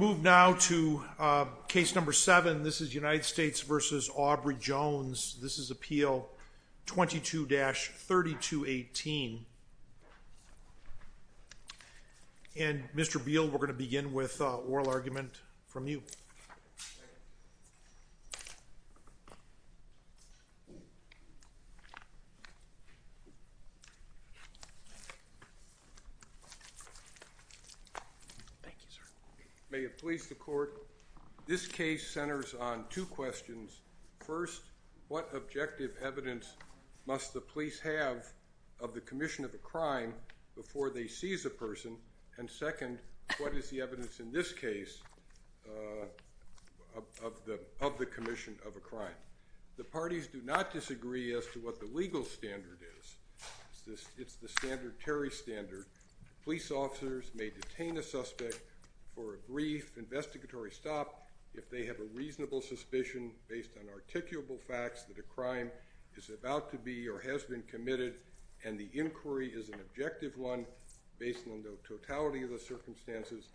move now to uh... case number seven this is united states versus aubrey jones this is appeal twenty two dash thirty two eighteen and mister bill we're gonna begin with uh... oral argument from you they please the court this case centers on two questions what objective evidence must the police have of the commission of crime before they see is a person and second what is the evidence in this case uh... uh... of the of the commission of a crime the parties do not disagree as to what the legal standard it's the standard terry standard police officers may detain a suspect for a brief investigatory stop if they have a reasonable suspicion based on articulable facts that a crime is about to be or has been committed and the inquiry is an objective one based on the totality of the circumstances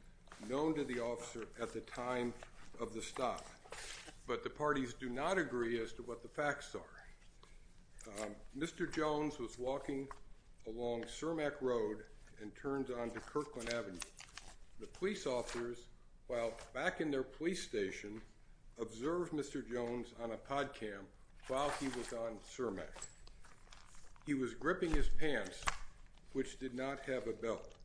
known to the officer at the time of the stop but the parties do not agree as to what the facts are mister jones was walking along cermak road and turned onto kirkland avenue the police officers while back in their police station observed mister jones on a pod cam while he was on cermak he was gripping his pants which did not have a belt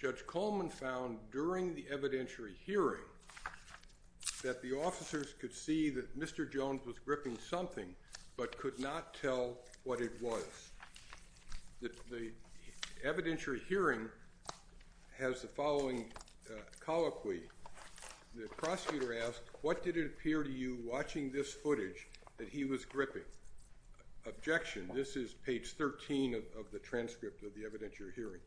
judge coleman found during the evidentiary hearing that the officers could see that mister jones was gripping something but could not tell what it was evidentiary hearing has the following uh... colloquy the prosecutor asked what did it appear to you watching this footage that he was gripping objection this is page thirteen of the transcript of the evidentiary hearing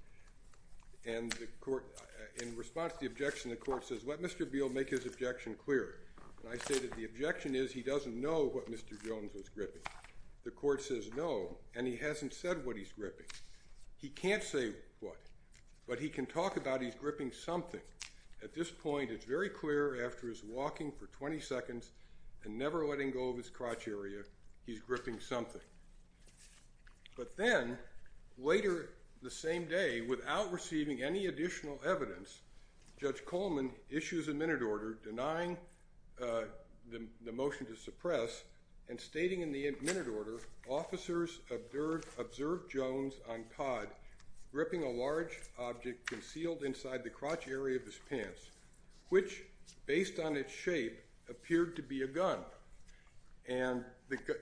and the court in response to the objection the court says let mister biel make his objection clear i say that the objection is he doesn't know what mister jones was gripping the court says no and he hasn't said what he's gripping he can't say but he can talk about he's gripping something at this point it's very clear after his walking for twenty seconds and never letting go of his crotch area he's gripping something but then later the same day without receiving any additional evidence judge coleman issues a minute order denying uh... the motion to suppress and stating in the minute order officers observed jones on pod gripping a large object concealed inside the crotch area of his pants which based on its shape appeared to be a gun and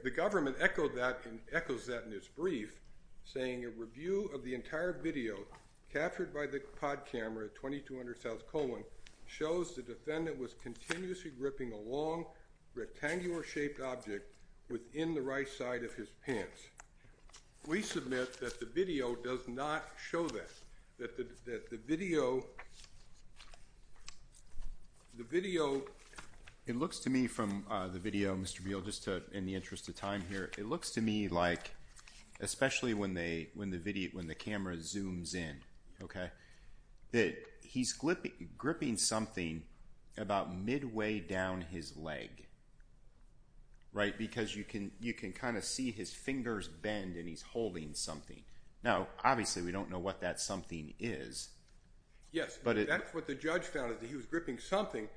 the government echoed that and echoes that in its brief saying a review of the entire video captured by the pod camera at twenty two hundred south colin shows the defendant was continuously gripping a long rectangular shaped object within the right side of his pants we submit that the video does not show that that the video the video it looks to me from uh... the video mister wheel just uh... in the interest of time here it looks to me like especially when they when the video when the camera zooms in that he's gripping something about midway down his leg right because you can you can kind of see his fingers bend and he's holding something now obviously we don't know what that something is yes but that's what the judge found that he was gripping something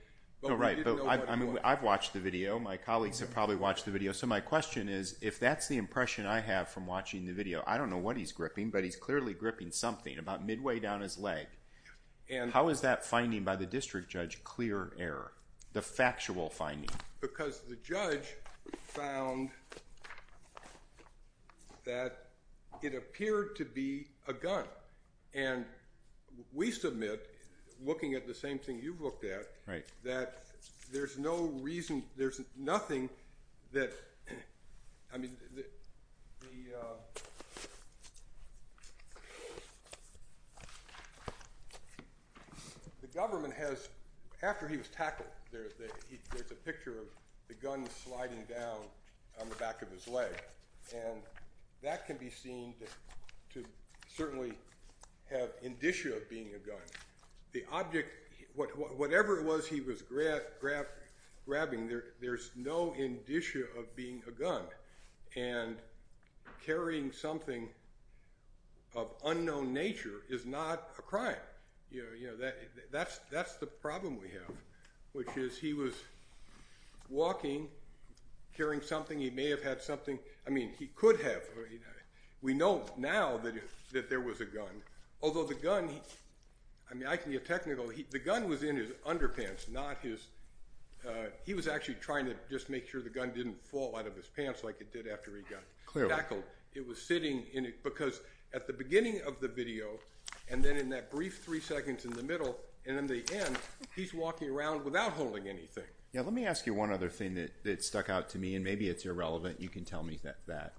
but we didn't know what it was. I've watched the video my colleagues have probably watched the video so my question is if that's the impression i have from watching the video i don't know what he's gripping but he's clearly gripping something about midway down his leg and how is that finding by the district judge clear error the factual finding because the judge found it appeared to be a gun we submit looking at the same thing you've looked at that there's no reason there's nothing the government has after he was tackled there's a picture of the gun sliding down on the back of his leg that can be seen to certainly have indicia of being a gun the object whatever it was he was grabbing there's no indicia of being a gun and carrying something of unknown nature is not a crime you know that that's that's the problem we have which is he was walking carrying something he may have had something i mean he could have we know now that that there was a gun although the gun i mean i can get technical the gun was in his underpants not his uh... he was actually trying to just make sure the gun didn't fall out of his pants like it did after he got tackled it was sitting in it because at the beginning of the video and then in that brief three seconds in the middle and in the end he's walking around without holding anything let me ask you one other thing that stuck out to me and maybe it's irrelevant you can tell me that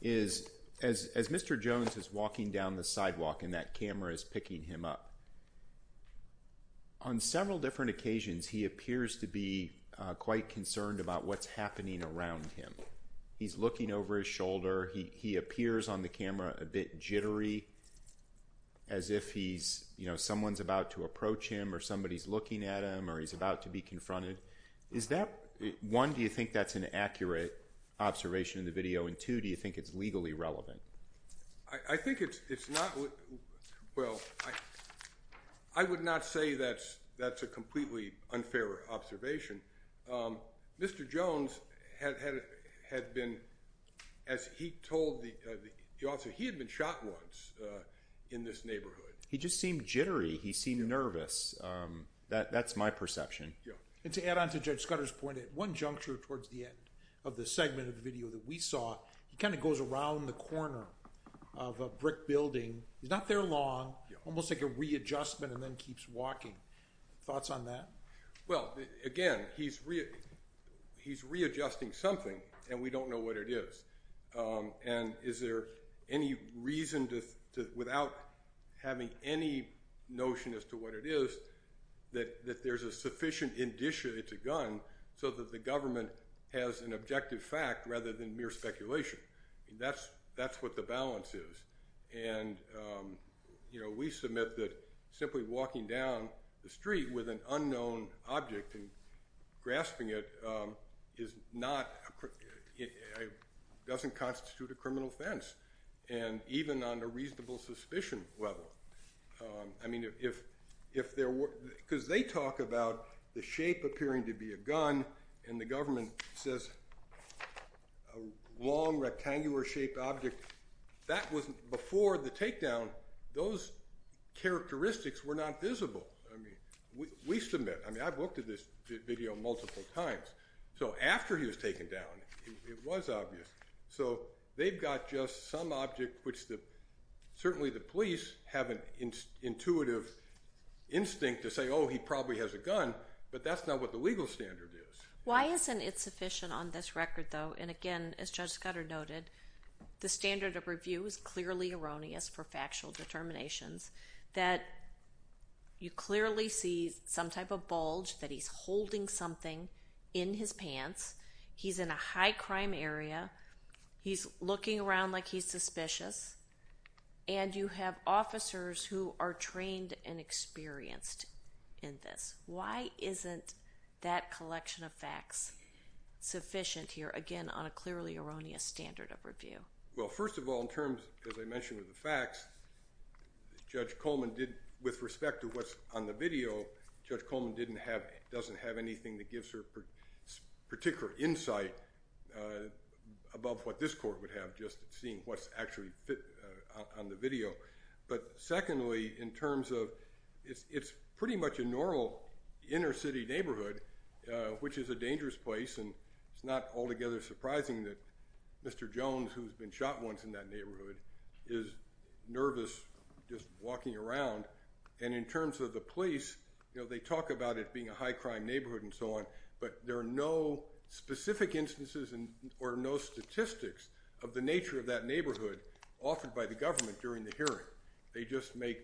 is as as mister jones is walking down the sidewalk and that camera is picking him up on several different occasions he appears to be uh... quite concerned about what's happening around him he's looking over his shoulder he he appears on the camera a bit jittery as if he's you know someone's about to approach him or somebody's looking at him or he's about to be confronted is that one do you think that's an accurate observation in the video and two do you think it's legally relevant i think it's it's not i would not say that's that's a completely unfair observation mister jones had been as he told the officer he had been shot once in this neighborhood he just seemed jittery he seemed nervous that that's my perception and to add on to judge scudder's point at one juncture towards the end of the segment of the video that we saw he kind of goes around the corner of a brick building he's not there long almost like a readjustment and then keeps walking thoughts on that well again he's he's readjusting something and we don't know what it is uh... and is there any reason to without having any notion as to what it is that that there's a sufficient indicia it's a gun so that the government has an objective fact rather than mere speculation that's what the balance is and uh... you know we submit that simply walking down the street with an unknown object grasping it uh... is not doesn't constitute a criminal offense and even on a reasonable suspicion level uh... i mean if if there were because they talk about the shape appearing to be a gun and the government says long rectangular shaped object that was before the takedown those characteristics were not visible we submit i mean i've looked at this video multiple times so after he was taken down it was obvious they've got just some object which the certainly the police have an intuitive instinct to say oh he probably has a gun but that's not what the legal standard is why isn't it sufficient on this record though and again as judge scudder noted the standard of review is clearly erroneous for factual determinations you clearly see some type of bulge that he's holding something in his pants he's in a high crime area he's looking around like he's suspicious and you have officers who are trained and experienced in this why isn't that collection of facts sufficient here again on a clearly erroneous standard of review well first of all in terms as i mentioned with the facts judge coleman did with respect to what's on the video judge coleman didn't have doesn't have anything that gives her particular insight above what this court would have just seeing what's actually on the video but secondly in terms of it's pretty much a normal inner city neighborhood uh... which is a dangerous place and it's not altogether surprising that mister jones who's been shot once in that neighborhood nervous walking around and in terms of the police you know they talk about it being a high crime neighborhood and so on but there are no specific instances and or no statistics of the nature of that neighborhood often by the government during the hearing they just make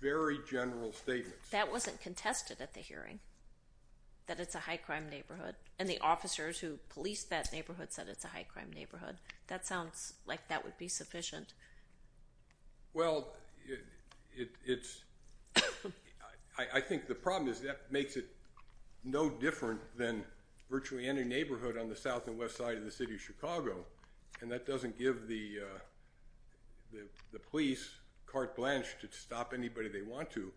very general statements that wasn't contested at the hearing that it's a high crime neighborhood and the officers who police that neighborhood said it's a high crime neighborhood that sounds like that would be sufficient well it it's i think the problem is that makes it no different than virtually any neighborhood on the south and west side of the city of chicago and that doesn't give the uh... the police carte blanche to stop anybody they want to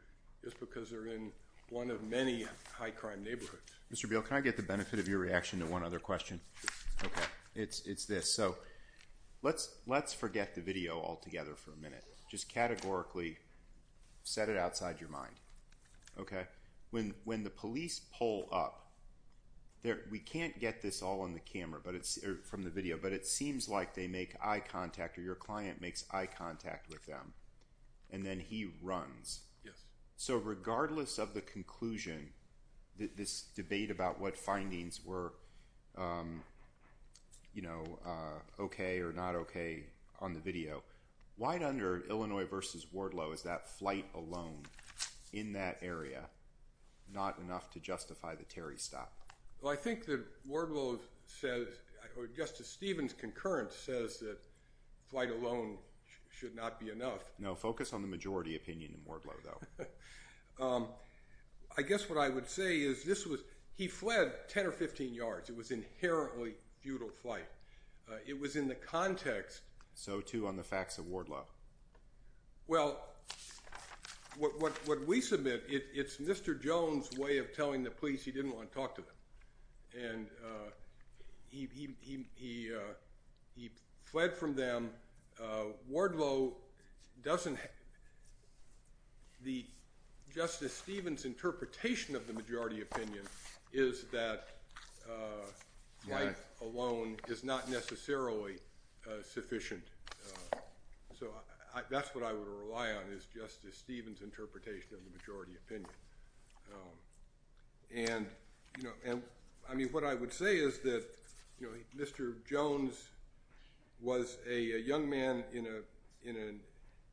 just because they're in one of many high crime neighborhoods Mr. Beal can I get the benefit of your reaction to one other question it's it's this so let's let's forget the video altogether for a minute just categorically set it outside your mind when when the police pull up we can't get this all on the camera but it's uh... from the video but it and then he runs so regardless of the conclusion this debate about what findings were uh... you know uh... okay or not okay on the video why under illinois versus wardlow is that flight alone in that area not enough to justify the terry stop well i think that wardlow says justice stevens concurrent says that flight alone should not be enough no focus on the majority opinion wardlow i guess what i would say is this was he fled ten or fifteen yards it was inherently futile flight uh... it was in the context so too on the facts of wardlow well what what what we submit it it's mister jones way of telling the police he didn't want to talk to them and uh... he he he he uh... fled from them uh... wardlow doesn't justice stevens interpretation of the majority opinion is that flight alone is not necessarily uh... sufficient so that's what i would rely on is justice stevens interpretation of the majority opinion you know i mean what i would say is that mister jones was a young man in a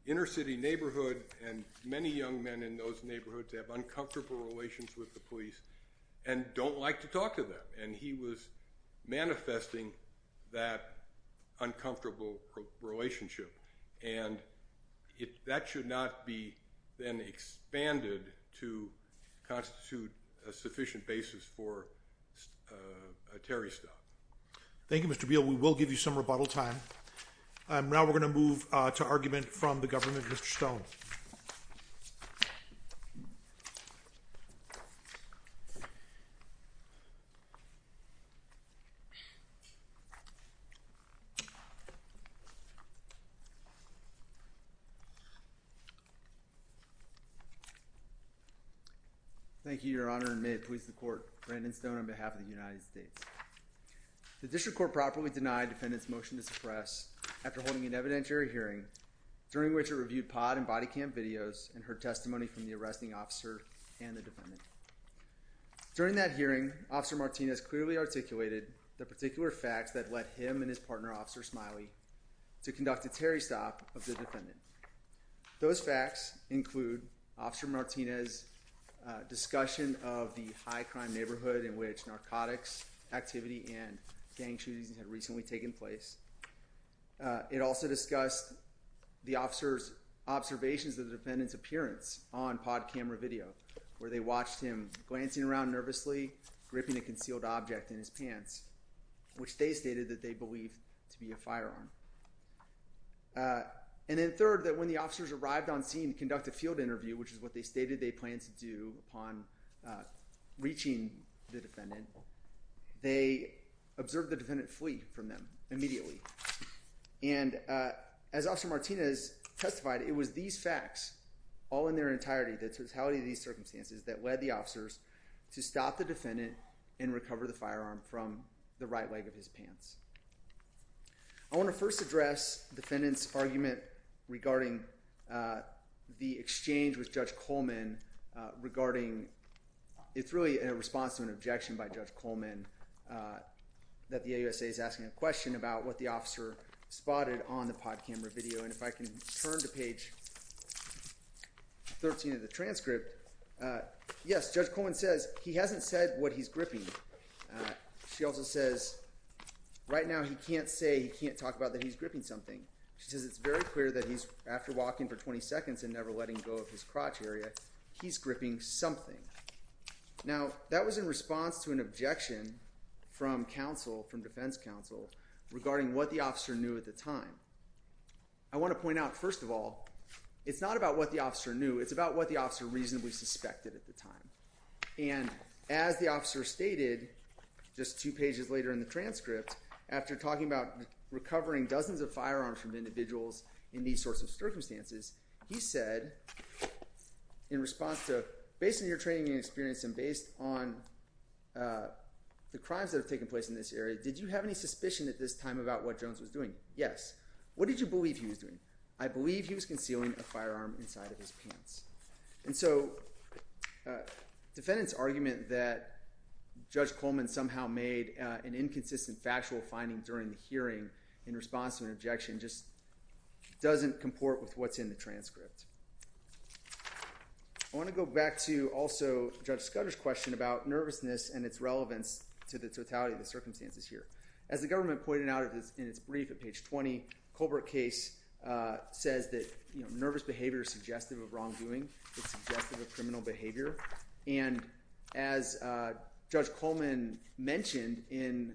inner city neighborhood and many young men in those neighborhoods have uncomfortable relations with the police and don't like to talk to them and he was manifesting uncomfortable relationship and if that should not be then expanded constitute sufficient basis for uh... terry stop thank you mister bill we will give you some rebuttal time and now we're gonna move onto argument from the government stone uh... thank you your honor may please the court brandon stone on behalf of the united states the district court properly denied the defendant's motion to suppress after holding an evidentiary hearing during which a review pod body cam videos and her testimony from the arresting officer during that hearing officer martinez clearly articulated the particular facts that led him and his partner officer smiley to conduct a terry stop those facts include officer martinez uh... discussion of the high crime neighborhood in which narcotics activity and gang shootings recently taken place uh... it also discussed the officer's observations of the defendant's appearance on pod camera video where they watched him glancing around nervously gripping a concealed object in his pants which they stated that they believe to be a firearm and then third that when the officers arrived on scene to conduct a field interview which is what they stated they plan to do upon reaching the defendant they and uh... as often martinez testified it was these facts all in their entirety that's how the circumstances that led the officers to stop the defendant and recover the firearm from the right leg of his pants on the first address defendants argument regarding the exchange with judge coleman uh... regarding it's really a response to an objection by judge coleman uh... that the a-u-s-a is asking a question about what the officer spotted on the pod camera video and if i can turn to page thirteen of the transcript uh... yes judge coleman says he hasn't said what he's gripping she also says right now he can't say he can't talk about that he's gripping something she says it's very clear that he's after walking for twenty seconds and never letting go of his crotch area he's gripping something now that was in response to an objection from counsel from defense counsel regarding what the officer knew at the time i want to point out first of all it's not about what the officer knew it's about what the officer reasonably suspected at the time as the officer stated just two pages later in the transcript after talking about recovering dozens of firearms from individuals in these sorts of circumstances he said in response to based on your training and experience and based on the crimes that have taken place in this area did you have any suspicion at this time about what jones was doing what did you believe he was doing i believe he was concealing a firearm inside of his pants and so defendant's argument that judge coleman somehow made an inconsistent factual finding during the hearing in response to an objection just doesn't comport with what's in the transcript i want to go back to also judge scudder's question about nervousness and it's relevance to the totality of the circumstances here as the government pointed out in it's brief at page twenty colbert case uh... says that nervous behavior is suggestive of wrongdoing it's suggestive of criminal behavior and as judge coleman mentioned in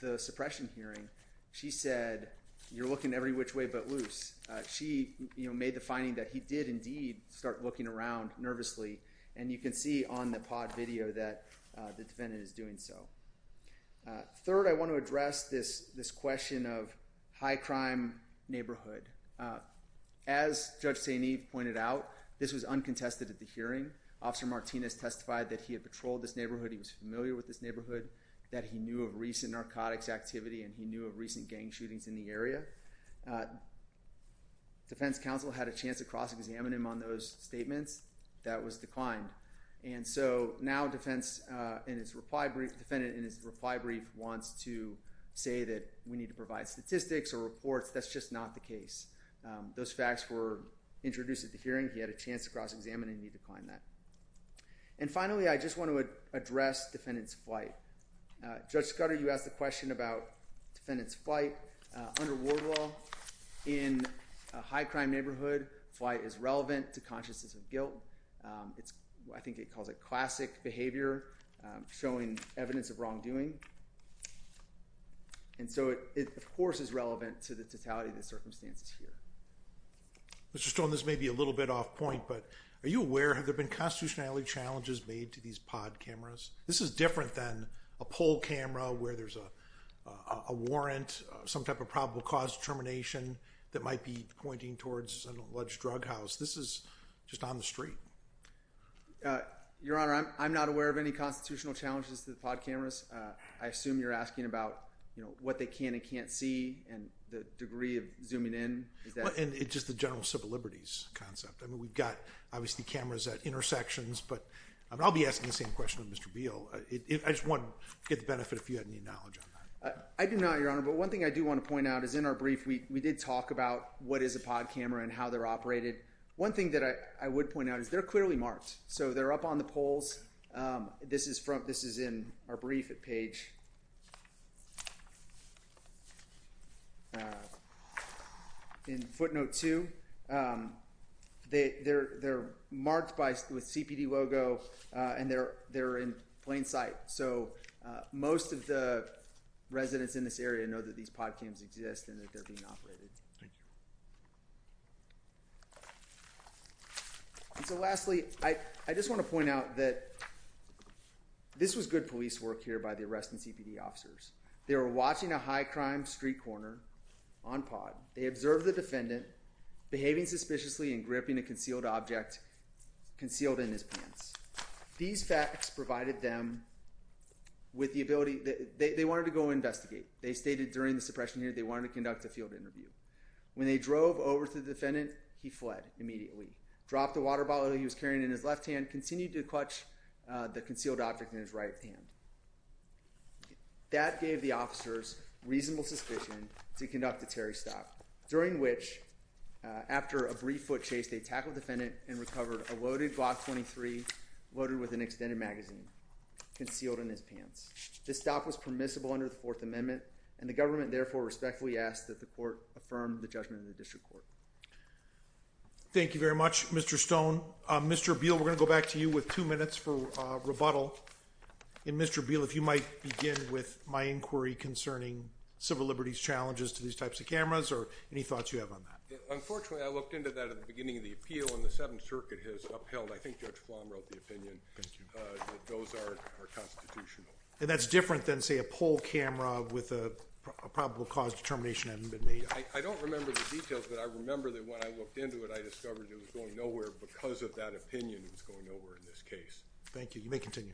the suppression hearing she said you're looking every which way but loose she made the finding that he did indeed start looking around nervously and you can see on the pod video that the defendant is doing so uh... third i want to address this this question of high-crime neighborhood as judge staneef pointed out this is uncontested at the hearing officer martinez testified that he had patrolled this neighborhood he was familiar with this neighborhood that he knew of recent narcotics activity and he knew of recent gang shootings in the area defense counsel had a chance to cross examine him on those statements that was declined and so now defense uh... in his reply brief defendant in his reply brief wants to say that we need to provide statistics or reports that's just not the case uh... those facts were introduced at the hearing he had a chance to cross examine him and he declined that and finally i just want to address defendant's flight uh... judge scudder you asked a question about defendant's flight uh... under ward law in a high-crime neighborhood flight is relevant to consciousness of guilt uh... it's what i think it calls a classic behavior uh... showing evidence of wrongdoing and so it of course is relevant to the totality of the circumstances here Mr. Stone this may be a little bit off point but are you aware have there been constitutionality challenges made to these pod cameras this is different than a poll camera where there's a a warrant some type of probable cause termination that might be pointing towards an alleged drug house this is just on the street your honor i'm not aware of any constitutional challenges to the pod cameras i assume you're asking about you know what they can and can't see and the degree of zooming in and it's just the general civil liberties concept and we've got obviously cameras at intersections but i'll be asking the same question to Mr. Beal i just want to get the benefit if you have any knowledge on that i do not your honor but one thing i do want to point out is in our brief we did talk about what is a pod camera and how they're operated one thing that i i would point out is they're clearly marked so they're up on the polls uh... this is from this is in our brief at page in footnote two uh... they they're they're marked by with cpd logo uh... and they're they're in plain sight so uh... most of the residents in this area know that these podcams exist and that they're being operated so lastly i just want to point out that this was good police work here by the arresting cpd officers they were watching a high crime street corner on pod they observed the defendant behaving suspiciously and gripping a concealed object concealed in his pants these facts provided them with the ability that they they want to go investigate they stated during the suppression here they want to conduct a field interview when they drove over to the defendant he fled immediately dropped the water bottle he was carrying in his left hand continued to clutch uh... the concealed object in his right hand that gave the officers reasonable suspicion to conduct a Terry stop during which uh... after a brief foot chase they tackled the defendant and recovered a loaded Glock 23 loaded with an extended magazine concealed in his pants this stop was permissible under the fourth amendment and the government therefore respectfully asks that the court affirm the judgment of the district court thank you very much Mr. Stone uh... Mr. Beal we're going to go back to you with two minutes for uh... rebuttal and Mr. Beal if you might begin with my inquiry concerning civil liberties challenges to these types of cameras or any thoughts you have on that unfortunately I looked into that at the beginning of the appeal and the seventh circuit has upheld I think Judge Flom wrote the opinion and that's different than say a poll camera with a probable cause determination hasn't been made I don't remember the details but I remember that when I looked into it I discovered it was going nowhere because of that opinion thank you you may continue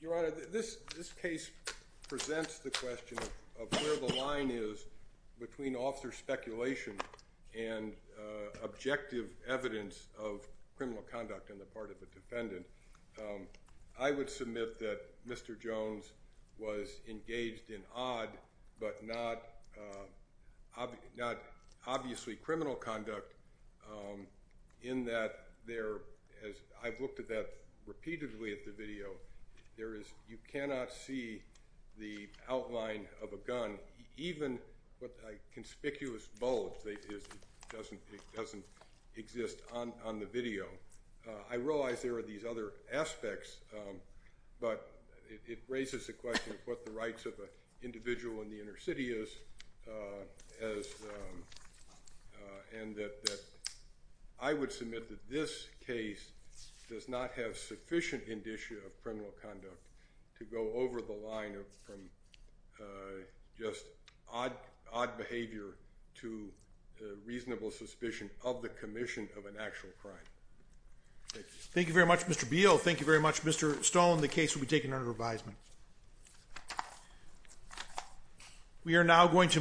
your honor this case presents the question of of where the line is between officer speculation and uh... objective evidence of criminal conduct on the part of the defendant I would submit that Mr. Jones was engaged in odd but not obviously criminal conduct in that there as I've looked at that repeatedly at the video you cannot see the outline of a gun even a conspicuous bulge doesn't exist on the video uh... I realize there are these other aspects but it raises the question of what the rights of an individual in the inner city is uh... as uh... uh... and that I would submit that this case does not have sufficient indicia of criminal conduct to go over the line of just odd behavior to reasonable suspicion of the commission of an actual crime thank you very much Mr. Beal thank you very much Mr. Stone the case will be taken under revision we are now going to